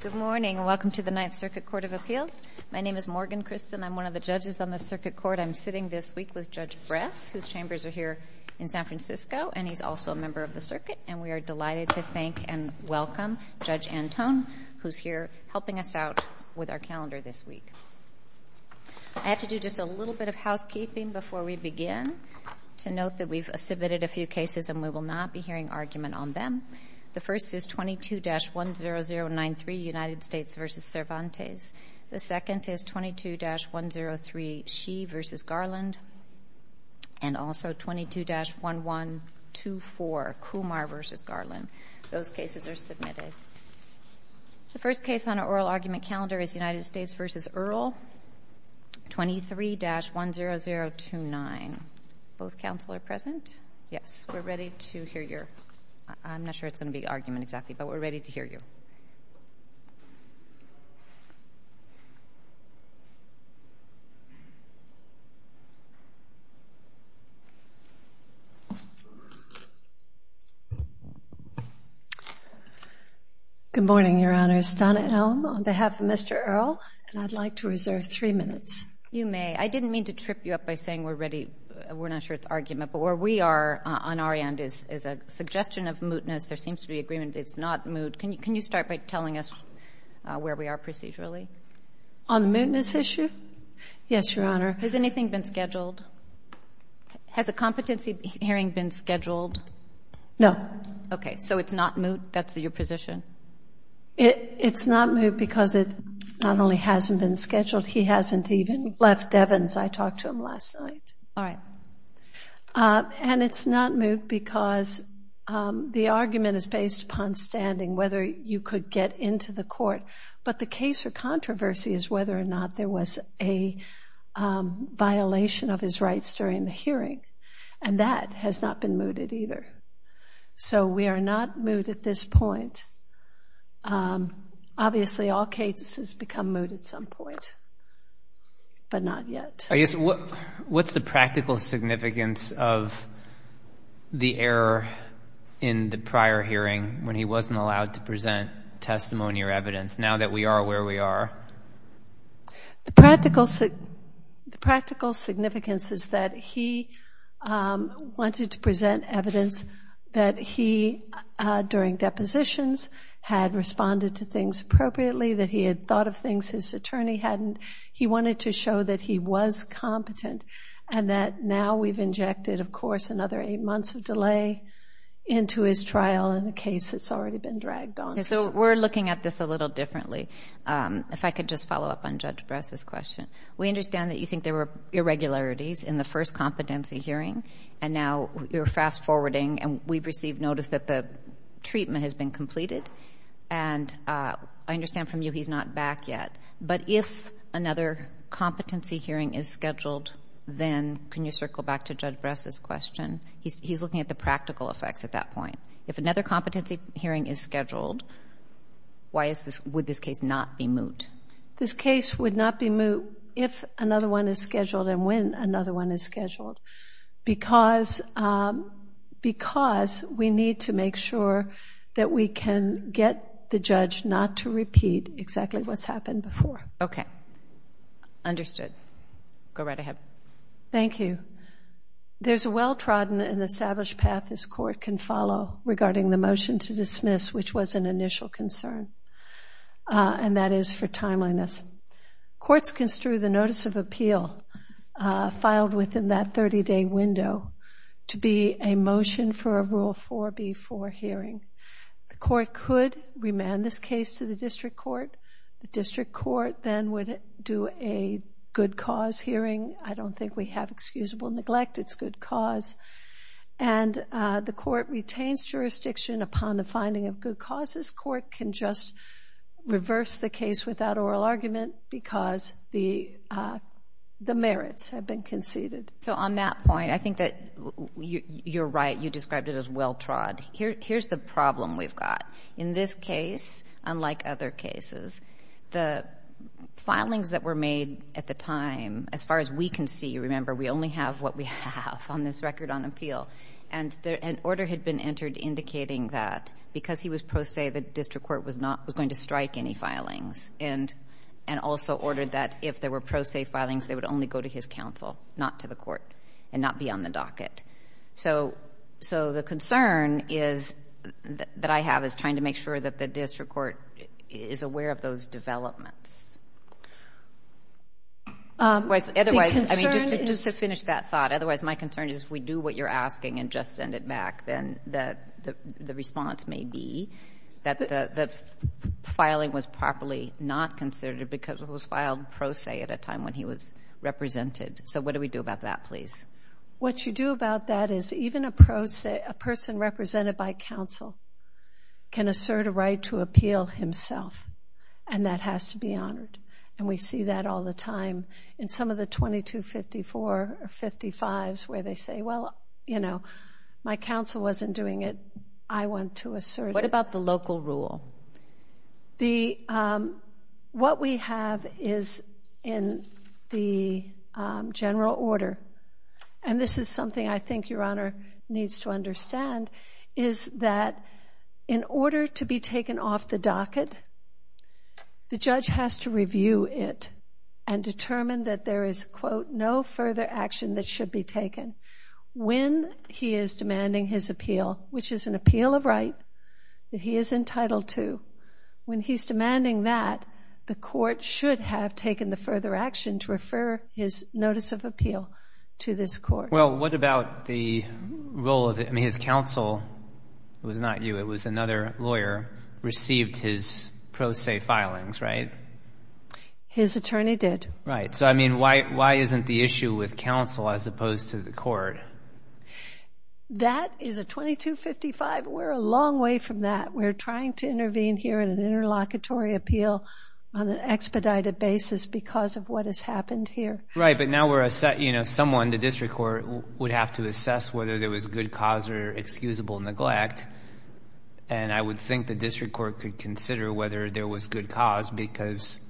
Good morning, and welcome to the Ninth Circuit Court of Appeals. My name is Morgan Christen. I'm one of the judges on the circuit court. I'm sitting this week with Judge Bress, whose chambers are here in San Francisco, and he's also a member of the circuit. And we are delighted to thank and welcome Judge Antone, who's here helping us out with our calendar this week. I have to do just a little bit of housekeeping before we begin to note that we've submitted a few cases and we will not be hearing argument on them. The first is 22-10093, United States v. Cervantes. The second is 22-103, Xi v. Garland, and also 22-1124, Kumar v. Garland. Those cases are submitted. The first case on our oral argument calendar is United States v. Earle, 23-10029. Both counsel are present? Yes, we're ready to hear your—I'm not sure it's going to be argument exactly, but we're ready to hear you. Good morning, Your Honors. Donna Elm on behalf of Mr. Earle, and I'd like to reserve three minutes. You may. I didn't mean to trip you up by saying we're ready—we're not sure it's argument, but where we are on our end is a suggestion of mootness. There seems to be agreement it's not moot. Can you start by telling us where we are procedurally? On the mootness issue? Yes, Your Honor. Has anything been scheduled? Has a competency hearing been scheduled? No. Okay, so it's not moot? That's your position? It's not moot because it not only hasn't been scheduled, he hasn't even left Devens. I talked to him last night. All right. And it's not moot because the argument is based upon standing, whether you could get into the court. But the case or controversy is whether or not there was a violation of his rights during the hearing, and that has not been mooted either. So we are not moot at this point. Obviously, all cases become moot at some point, but not yet. What's the practical significance of the error in the prior hearing when he wasn't allowed to present testimony or evidence now that we are where we are? The practical significance is that he wanted to present evidence that he, during depositions, had responded to things appropriately, that he had thought of things his attorney hadn't. He wanted to show that he was competent and that now we've injected, of course, another eight months of delay into his trial in a case that's already been dragged on. Okay. So we're looking at this a little differently. If I could just follow up on Judge Bress's question. We understand that you think there were irregularities in the first competency hearing, and now you're fast-forwarding, and we've received notice that the treatment has been completed. And I understand from you he's not back yet. But if another competency hearing is scheduled, then can you circle back to Judge Bress's question? He's looking at the practical effects at that point. If another competency hearing is scheduled, would this case not be moot? This case would not be moot if another one is scheduled and when another one is scheduled because we need to make sure that we can get the judge not to repeat exactly what's happened before. Okay. Understood. Go right ahead. Thank you. There's a well-trodden and established path this court can follow regarding the motion to dismiss, which was an initial concern, and that is for timeliness. Courts construe the notice of appeal filed within that 30-day window to be a motion for a Rule 4B4 hearing. The court could remand this case to the district court. The district court then would do a good cause hearing. I don't think we have excusable neglect. It's good cause. And the court retains jurisdiction upon the finding of good causes. The court can just reverse the case without oral argument because the merits have been conceded. So on that point, I think that you're right. You described it as well-trod. Here's the problem we've got. In this case, unlike other cases, the filings that were made at the time, as far as we can see, remember, we only have what we have on this record on appeal. And an order had been entered indicating that because he was pro se, the district court was going to strike any filings, and also ordered that if there were pro se filings, they would only go to his counsel, not to the court, and not be on the docket. So the concern that I have is trying to make sure that the district court is aware of those developments. Otherwise, just to finish that thought, otherwise my concern is if we do what you're asking and just send it back, then the response may be that the filing was properly not considered because it was filed pro se at a time when he was represented. So what do we do about that, please? What you do about that is even a person represented by counsel can assert a right to appeal himself, and that has to be honored. And we see that all the time in some of the 2254 or 55s where they say, well, you know, my counsel wasn't doing it, I want to assert it. What about the local rule? What we have is in the general order, and this is something I think Your Honor needs to understand, is that in order to be taken off the docket, the judge has to review it and determine that there is, quote, no further action that should be taken when he is demanding his appeal, which is an appeal of right that he is entitled to. When he's demanding that, the court should have taken the further action to refer his notice of appeal to this court. Well, what about the role of, I mean, his counsel, it was not you, it was another lawyer, received his pro se filings, right? His attorney did. Right. So, I mean, why isn't the issue with counsel as opposed to the court? That is a 2255. We're a long way from that. We're trying to intervene here in an interlocutory appeal on an expedited basis because of what has happened here. Right, but now we're, you know, someone, the district court, would have to assess whether there was good cause or excusable neglect, and I would think the district court could consider whether there was good cause because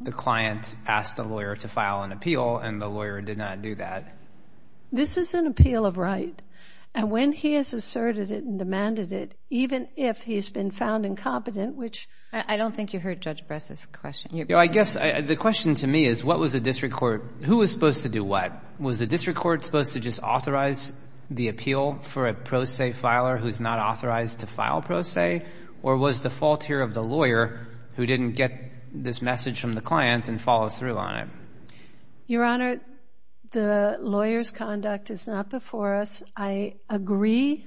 the client asked the lawyer to file an appeal and the lawyer did not do that. This is an appeal of right, and when he has asserted it and demanded it, even if he's been found incompetent, which... I don't think you heard Judge Bress's question. I guess the question to me is what was the district court... who was supposed to do what? Was the district court supposed to just authorize the appeal for a pro se filer who's not authorized to file pro se, or was the fault here of the lawyer who didn't get this message from the client and follow through on it? Your Honor, the lawyer's conduct is not before us. I agree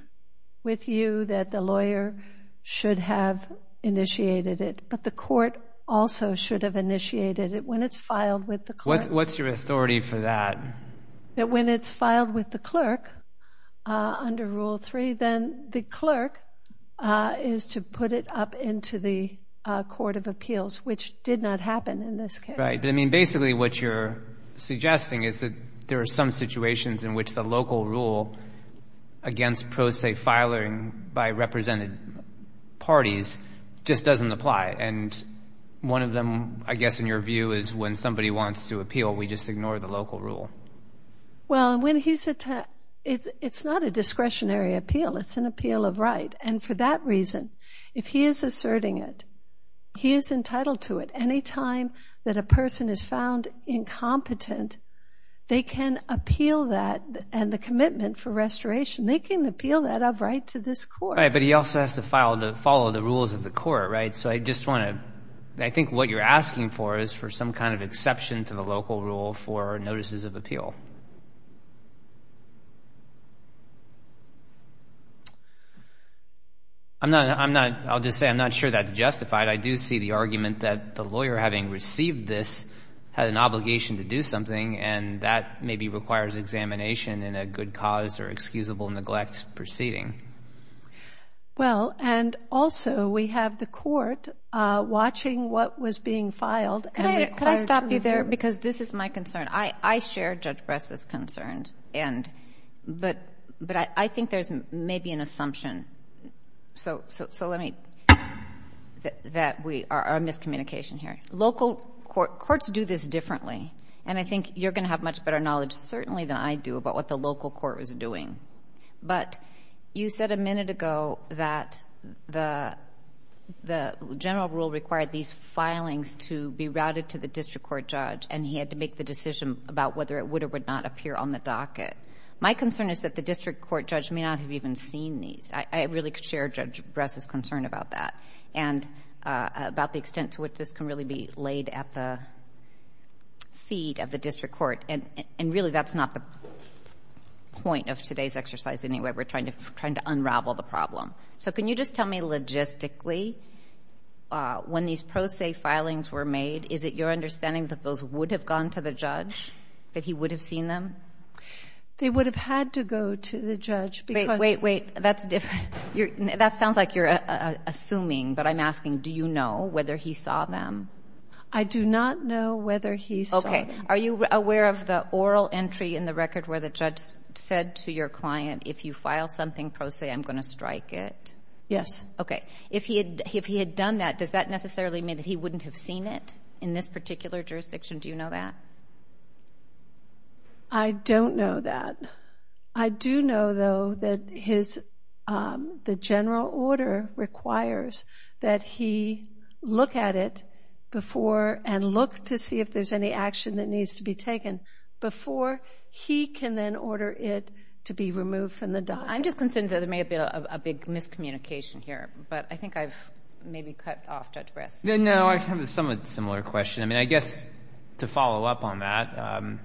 with you that the lawyer should have initiated it, but the court also should have initiated it. When it's filed with the clerk... What's your authority for that? That when it's filed with the clerk under Rule 3, then the clerk is to put it up into the court of appeals, which did not happen in this case. Right, but, I mean, basically what you're suggesting is that there are some situations in which the local rule against pro se filing by represented parties just doesn't apply, and one of them, I guess in your view, is when somebody wants to appeal, we just ignore the local rule. Well, when he's... it's not a discretionary appeal. It's an appeal of right, and for that reason, if he is asserting it, he is entitled to it. Anytime that a person is found incompetent, they can appeal that and the commitment for restoration. They can appeal that of right to this court. Right, but he also has to follow the rules of the court, right? So I just want to... I think what you're asking for is for some kind of exception to the local rule for notices of appeal. I'll just say I'm not sure that's justified. I do see the argument that the lawyer having received this had an obligation to do something, and that maybe requires examination in a good cause or excusable neglect proceeding. Well, and also we have the court watching what was being filed. Could I stop you there? Because this is my concern. I share Judge Bress's concerns, but I think there's maybe an assumption. So let me... our miscommunication here. Local courts do this differently, and I think you're going to have much better knowledge certainly than I do about what the local court was doing. But you said a minute ago that the general rule required these filings to be routed to the district court judge, and he had to make the decision about whether it would or would not appear on the docket. My concern is that the district court judge may not have even seen these. I really share Judge Bress's concern about that and about the extent to which this can really be laid at the feet of the district court, and really that's not the point of today's exercise in any way. We're trying to unravel the problem. So can you just tell me logistically when these pro se filings were made, is it your understanding that those would have gone to the judge, that he would have seen them? They would have had to go to the judge because... Wait, wait, wait. That's different. That sounds like you're assuming, but I'm asking do you know whether he saw them? I do not know whether he saw them. Okay. Are you aware of the oral entry in the record where the judge said to your client, if you file something pro se, I'm going to strike it? Yes. Okay. If he had done that, does that necessarily mean that he wouldn't have seen it in this particular jurisdiction? Do you know that? I don't know that. I do know, though, that the general order requires that he look at it before and look to see if there's any action that needs to be taken before he can then order it to be removed from the document. I'm just concerned that there may have been a big miscommunication here, but I think I've maybe cut off Judge Brest. No, I have a somewhat similar question. I mean, I guess to follow up on that,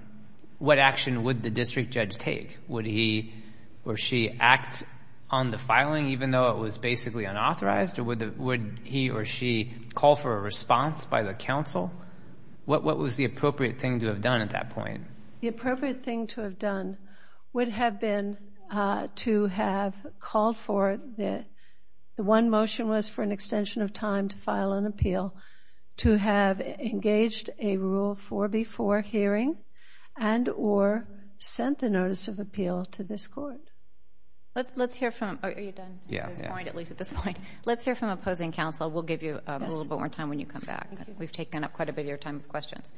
what action would the district judge take? Would he or she act on the filing even though it was basically unauthorized, or would he or she call for a response by the counsel? What was the appropriate thing to have done at that point? The appropriate thing to have done would have been to have called for the one motion was for an extension of time to file an appeal, to have engaged a rule for before hearing, and or sent the notice of appeal to this court. Let's hear from opposing counsel. We'll give you a little bit more time when you come back. We've taken up quite a bit of your time with questions.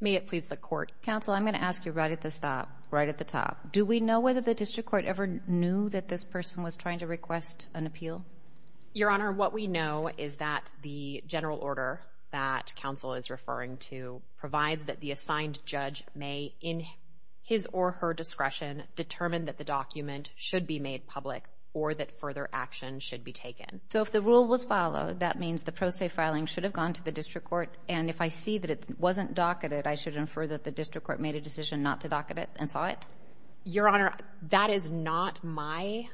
May it please the court. Counsel, I'm going to ask you right at the top. Do we know whether the district court ever knew that this person was trying to request an appeal? Your Honor, what we know is that the general order that counsel is referring to provides that the assigned judge may, in his or her discretion, determine that the document should be made public or that further action should be taken. So if the rule was followed, that means the pro se filing should have gone to the district court, and if I see that it wasn't docketed, I should infer that the district court made a decision not to docket it and saw it? Your Honor, that is not my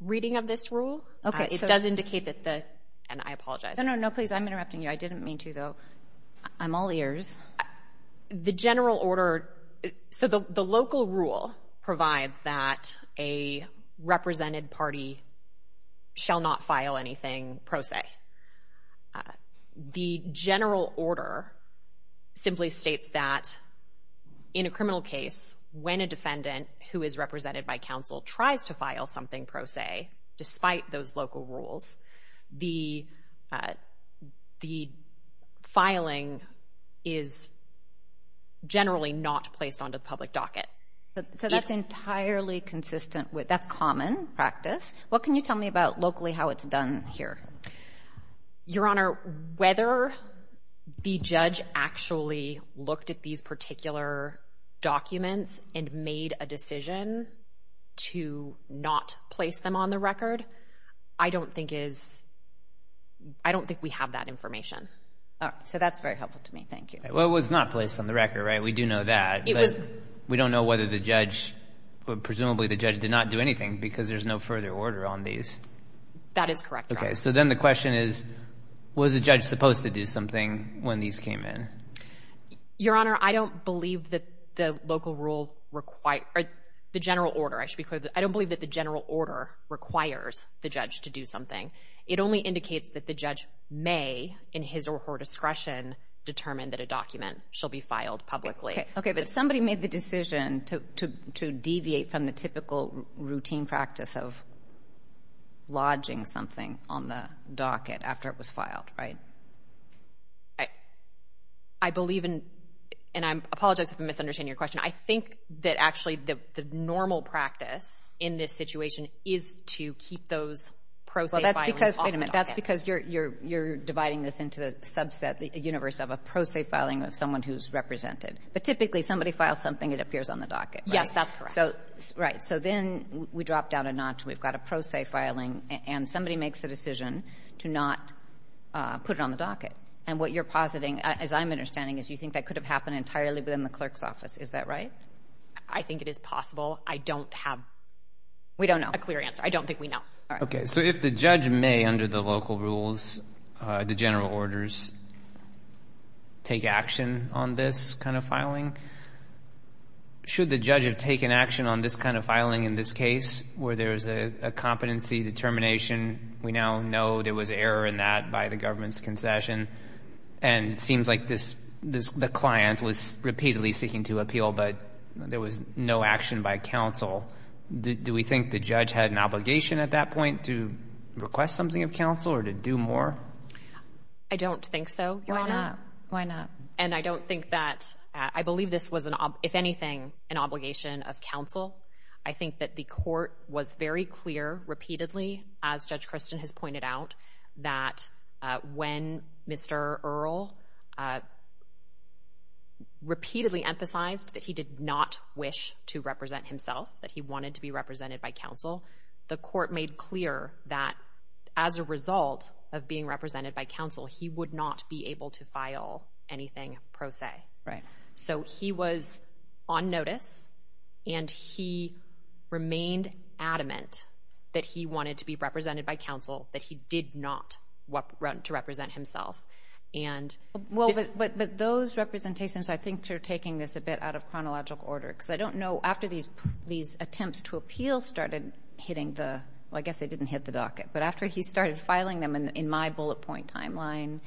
reading of this rule. Okay. It does indicate that the, and I apologize. No, no, no, please, I'm interrupting you. I didn't mean to, though. I'm all ears. The general order, so the local rule provides that a represented party shall not file anything pro se. The general order simply states that in a criminal case, when a defendant who is represented by counsel tries to file something pro se, despite those local rules, the filing is generally not placed onto the public docket. So that's entirely consistent with, that's common practice. What can you tell me about locally how it's done here? Your Honor, whether the judge actually looked at these particular documents and made a decision to not place them on the record, I don't think is, I don't think we have that information. So that's very helpful to me. Thank you. Well, it was not placed on the record, right? We do know that. But we don't know whether the judge, presumably the judge did not do anything because there's no further order on these. That is correct, Your Honor. Okay. So then the question is, was the judge supposed to do something when these came in? Your Honor, I don't believe that the local rule, or the general order, I should be clear, I don't believe that the general order requires the judge to do something. It only indicates that the judge may, in his or her discretion, determine that a document shall be filed publicly. Okay. But somebody made the decision to deviate from the typical routine practice of lodging something on the docket after it was filed, right? I believe in, and I apologize if I'm misunderstanding your question, I think that actually the normal practice in this situation is to keep those pro se filings off the docket. Well, that's because, wait a minute, that's because you're dividing this into the subset, the universe of a pro se filing of someone who's represented. But typically somebody files something, it appears on the docket, right? Yes, that's correct. Right. So then we drop down a notch, we've got a pro se filing, and somebody makes the decision to not put it on the docket. And what you're positing, as I'm understanding, is you think that could have happened entirely within the clerk's office. Is that right? I think it is possible. I don't have a clear answer. I don't think we know. Okay. So if the judge may, under the local rules, the general orders, take action on this kind of filing, should the judge have taken action on this kind of filing in this case where there's a competency determination? We now know there was error in that by the government's concession, and it seems like the client was repeatedly seeking to appeal, but there was no action by counsel. Do we think the judge had an obligation at that point to request something of counsel or to do more? I don't think so, Your Honor. Why not? Why not? And I don't think that ‑‑ I believe this was, if anything, an obligation of counsel. I think that the court was very clear repeatedly, as Judge Christin has pointed out, that when Mr. Earle repeatedly emphasized that he did not wish to represent himself, that he wanted to be represented by counsel, the court made clear that as a result of being represented by counsel, he would not be able to file anything pro se. Right. So he was on notice, and he remained adamant that he wanted to be represented by counsel, that he did not want to represent himself. Well, but those representations I think are taking this a bit out of chronological order, because I don't know after these attempts to appeal started hitting the ‑‑ well, I guess they didn't hit the docket, but after he started filing them in my bullet point timeline,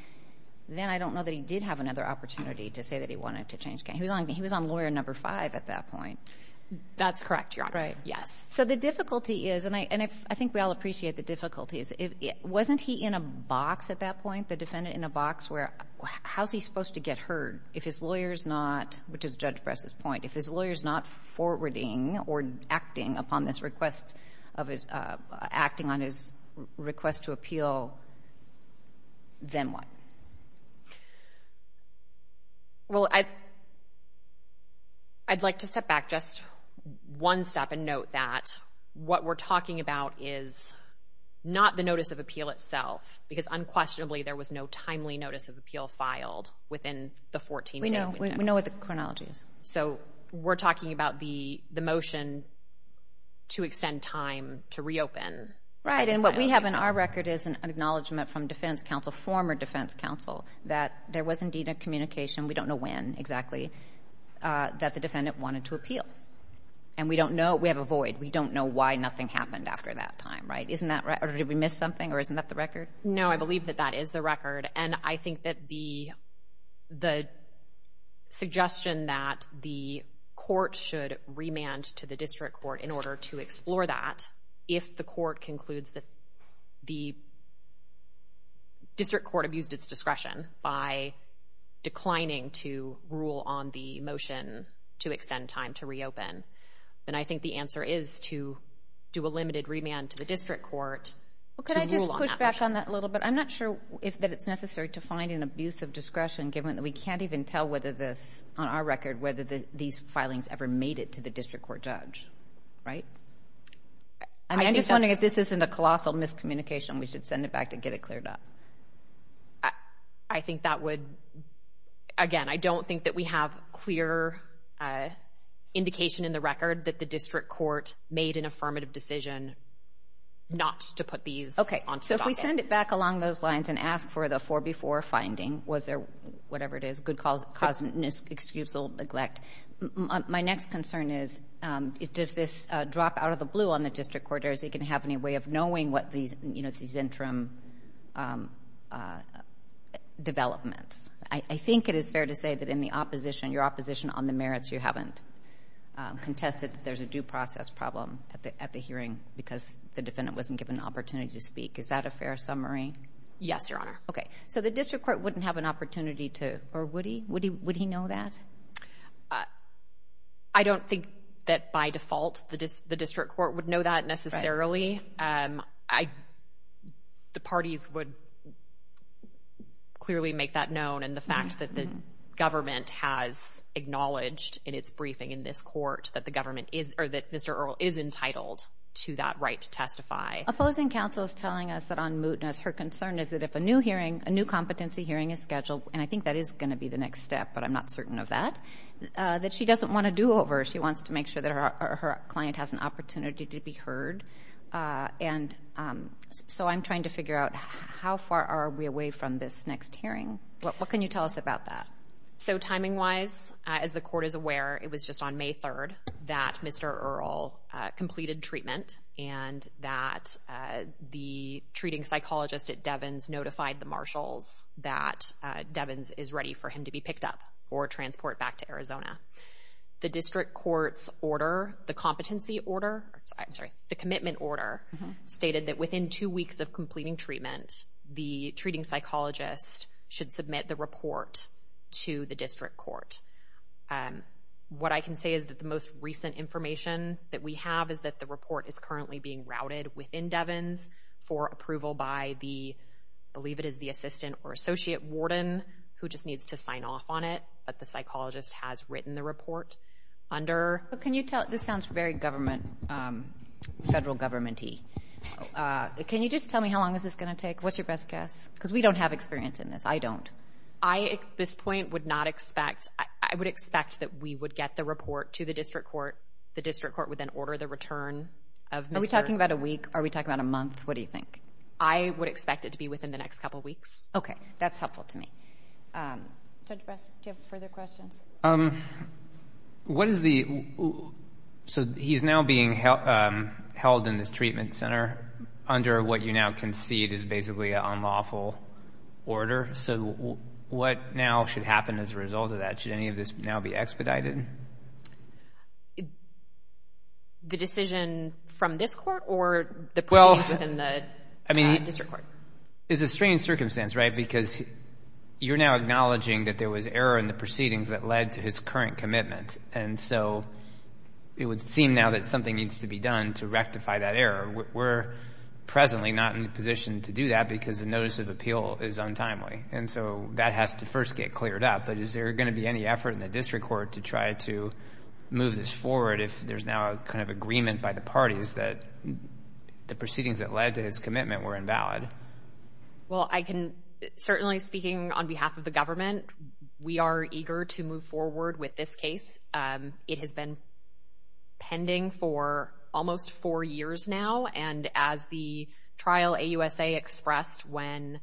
then I don't know that he did have another opportunity to say that he wanted to change counsel. He was on lawyer number five at that point. That's correct, Your Honor. Right. Yes. So the difficulty is, and I think we all appreciate the difficulties, wasn't he in a box at that point, the defendant in a box, where how is he supposed to get heard if his lawyer is not, which is Judge Bress's point, if his lawyer is not forwarding or acting upon this request of his ‑‑ acting on his request to appeal, then what? Well, I'd like to step back just one step and note that what we're talking about is not the notice of appeal itself, because unquestionably there was no timely notice of appeal filed within the 14 days. We know what the chronology is. So we're talking about the motion to extend time to reopen. Right. And what we have in our record is an acknowledgment from defense counsel, former defense counsel, that there was indeed a communication, we don't know when exactly, that the defendant wanted to appeal. And we don't know. We have a void. We don't know why nothing happened after that time, right? Isn't that right? Or did we miss something? Or isn't that the record? No, I believe that that is the record. And I think that the suggestion that the court should remand to the district court in order to explore that if the court concludes that the district court abused its discretion by declining to rule on the motion to extend time to reopen, then I think the answer is to do a limited remand to the district court to rule on that motion. Well, could I just push back on that a little bit? I'm not sure that it's necessary to find an abuse of discretion, given that we can't even tell whether this, on our record, whether these filings ever made it to the district court judge, right? I'm just wondering if this isn't a colossal miscommunication, we should send it back to get it cleared up. I think that would, again, I don't think that we have clear indication in the record that the district court made an affirmative decision not to put these onto the docket. Okay, so if we send it back along those lines and ask for the 4B4 finding, was there whatever it is, good cause, excuse, or neglect, my next concern is, does this drop out of the blue on the district court? Is it going to have any way of knowing what these interim developments? I think it is fair to say that in the opposition, your opposition on the merits, you haven't contested that there's a due process problem at the hearing because the defendant wasn't given an opportunity to speak. Is that a fair summary? Yes, Your Honor. Okay, so the district court wouldn't have an opportunity to, or would he? I don't think that by default the district court would know that necessarily. The parties would clearly make that known, and the fact that the government has acknowledged in its briefing in this court that the government is, or that Mr. Earle is entitled to that right to testify. Opposing counsel is telling us that on mootness, her concern is that if a new hearing, a new competency hearing is scheduled, and I think that is going to be the next step, but I'm not certain of that, that she doesn't want to do over. She wants to make sure that her client has an opportunity to be heard. And so I'm trying to figure out how far are we away from this next hearing? What can you tell us about that? So timing-wise, as the court is aware, it was just on May 3rd that Mr. Earle completed treatment and that the treating psychologist at Devens notified the marshals that Devens is ready for him to be picked up or transport back to Arizona. The district court's order, the competency order, I'm sorry, the commitment order, stated that within two weeks of completing treatment, the treating psychologist should submit the report to the district court. What I can say is that the most recent information that we have is that the report is currently being routed within Devens for approval by the, I believe it is the assistant or associate warden who just needs to sign off on it, but the psychologist has written the report under- Can you tell, this sounds very government, federal government-y. Can you just tell me how long is this going to take? What's your best guess? Because we don't have experience in this. I don't. I, at this point, would not expect, I would expect that we would get the report to the district court. The district court would then order the return of Mr. Earle. Are we talking about a week? Are we talking about a month? What do you think? I would expect it to be within the next couple weeks. Okay. That's helpful to me. Judge Bress, do you have further questions? What is the, so he's now being held in this treatment center under what you now concede is basically an unlawful order. So what now should happen as a result of that? Should any of this now be expedited? The decision from this court or the proceedings within the district court? It's a strange circumstance, right, because you're now acknowledging that there was error in the proceedings that led to his current commitment. And so it would seem now that something needs to be done to rectify that error. We're presently not in a position to do that because the notice of appeal is untimely. And so that has to first get cleared up. But is there going to be any effort in the district court to try to move this forward if there's now a kind of agreement by the parties that the proceedings that led to his commitment were invalid? Well, I can, certainly speaking on behalf of the government, we are eager to move forward with this case. It has been pending for almost four years now. And as the trial AUSA expressed when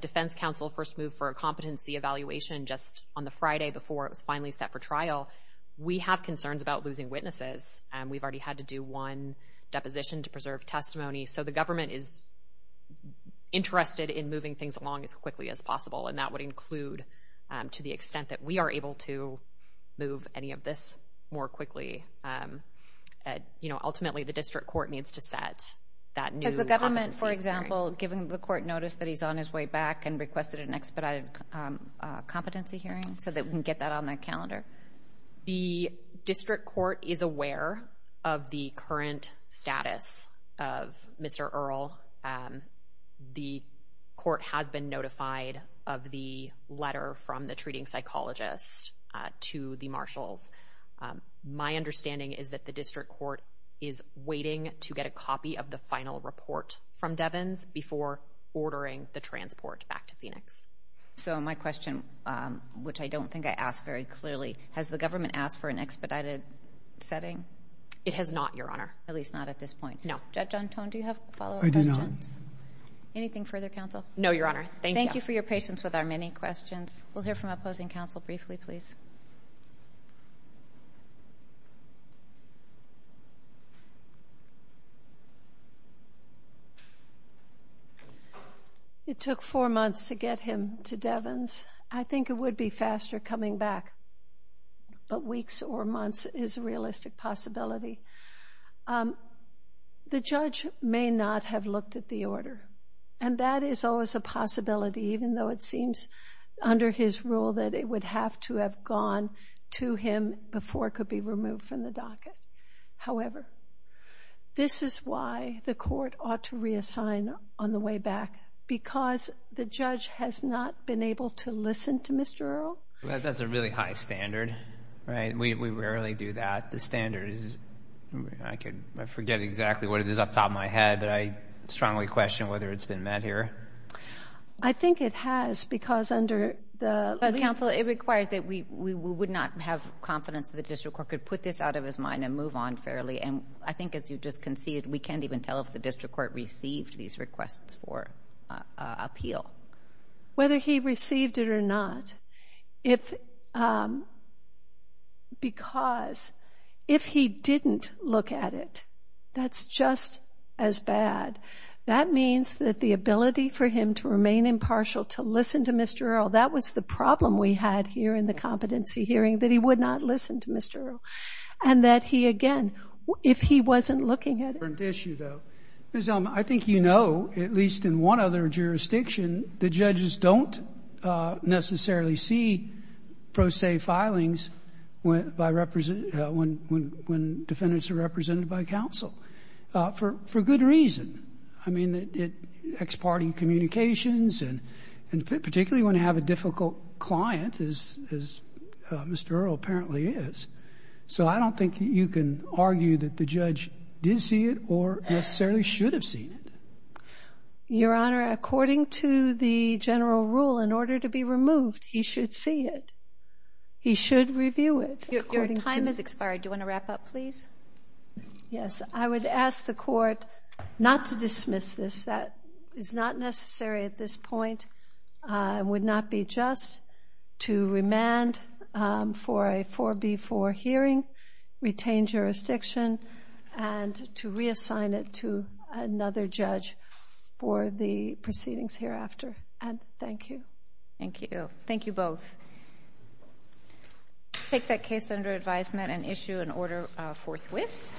Defense Counsel first moved for a competency evaluation just on the Friday before it was finally set for trial, we have concerns about losing witnesses. We've already had to do one deposition to preserve testimony. So the government is interested in moving things along as quickly as possible. And that would include to the extent that we are able to move any of this more quickly. Ultimately, the district court needs to set that new competency hearing. Has the government, for example, given the court notice that he's on his way back and requested an expedited competency hearing so that we can get that on their calendar? The district court is aware of the current status of Mr. Earle. The court has been notified of the letter from the treating psychologist to the marshals. My understanding is that the district court is waiting to get a copy of the final report from Devens before ordering the transport back to Phoenix. So my question, which I don't think I asked very clearly, has the government asked for an expedited setting? It has not, Your Honor. At least not at this point. No. With that, John Tone, do you have a follow-up? I do not. Anything further, counsel? No, Your Honor. Thank you. Thank you for your patience with our many questions. We'll hear from opposing counsel briefly, please. It took four months to get him to Devens. I think it would be faster coming back. But weeks or months is a realistic possibility. The judge may not have looked at the order, and that is always a possibility, even though it seems under his rule that it would have to have gone to him before it could be removed from the docket. However, this is why the court ought to reassign on the way back, because the judge has not been able to listen to Mr. Earle. That's a really high standard, right? We rarely do that. The standard is, I forget exactly what it is off the top of my head, but I strongly question whether it's been met here. I think it has, because under the legal— But, counsel, it requires that we would not have confidence that the district court could put this out of his mind and move on fairly. And I think, as you just conceded, we can't even tell if the district court received these requests for appeal. Whether he received it or not. Because if he didn't look at it, that's just as bad. That means that the ability for him to remain impartial, to listen to Mr. Earle, that was the problem we had here in the competency hearing, that he would not listen to Mr. Earle. And that he, again, if he wasn't looking at it— That's a different issue, though. Because I think you know, at least in one other jurisdiction, the judges don't necessarily see pro se filings when defendants are represented by counsel, for good reason. I mean, ex parte communications, and particularly when you have a difficult client, as Mr. Earle apparently is. So I don't think you can argue that the judge did see it or necessarily should have seen it. Your Honor, according to the general rule, in order to be removed, he should see it. He should review it. Your time has expired. Do you want to wrap up, please? Yes. I would ask the court not to dismiss this. That is not necessary at this point. It would not be just to remand for a 4B4 hearing, retain jurisdiction, and to reassign it to another judge for the proceedings hereafter. And thank you. Thank you. Thank you both. Take that case under advisement and issue an order forthwith.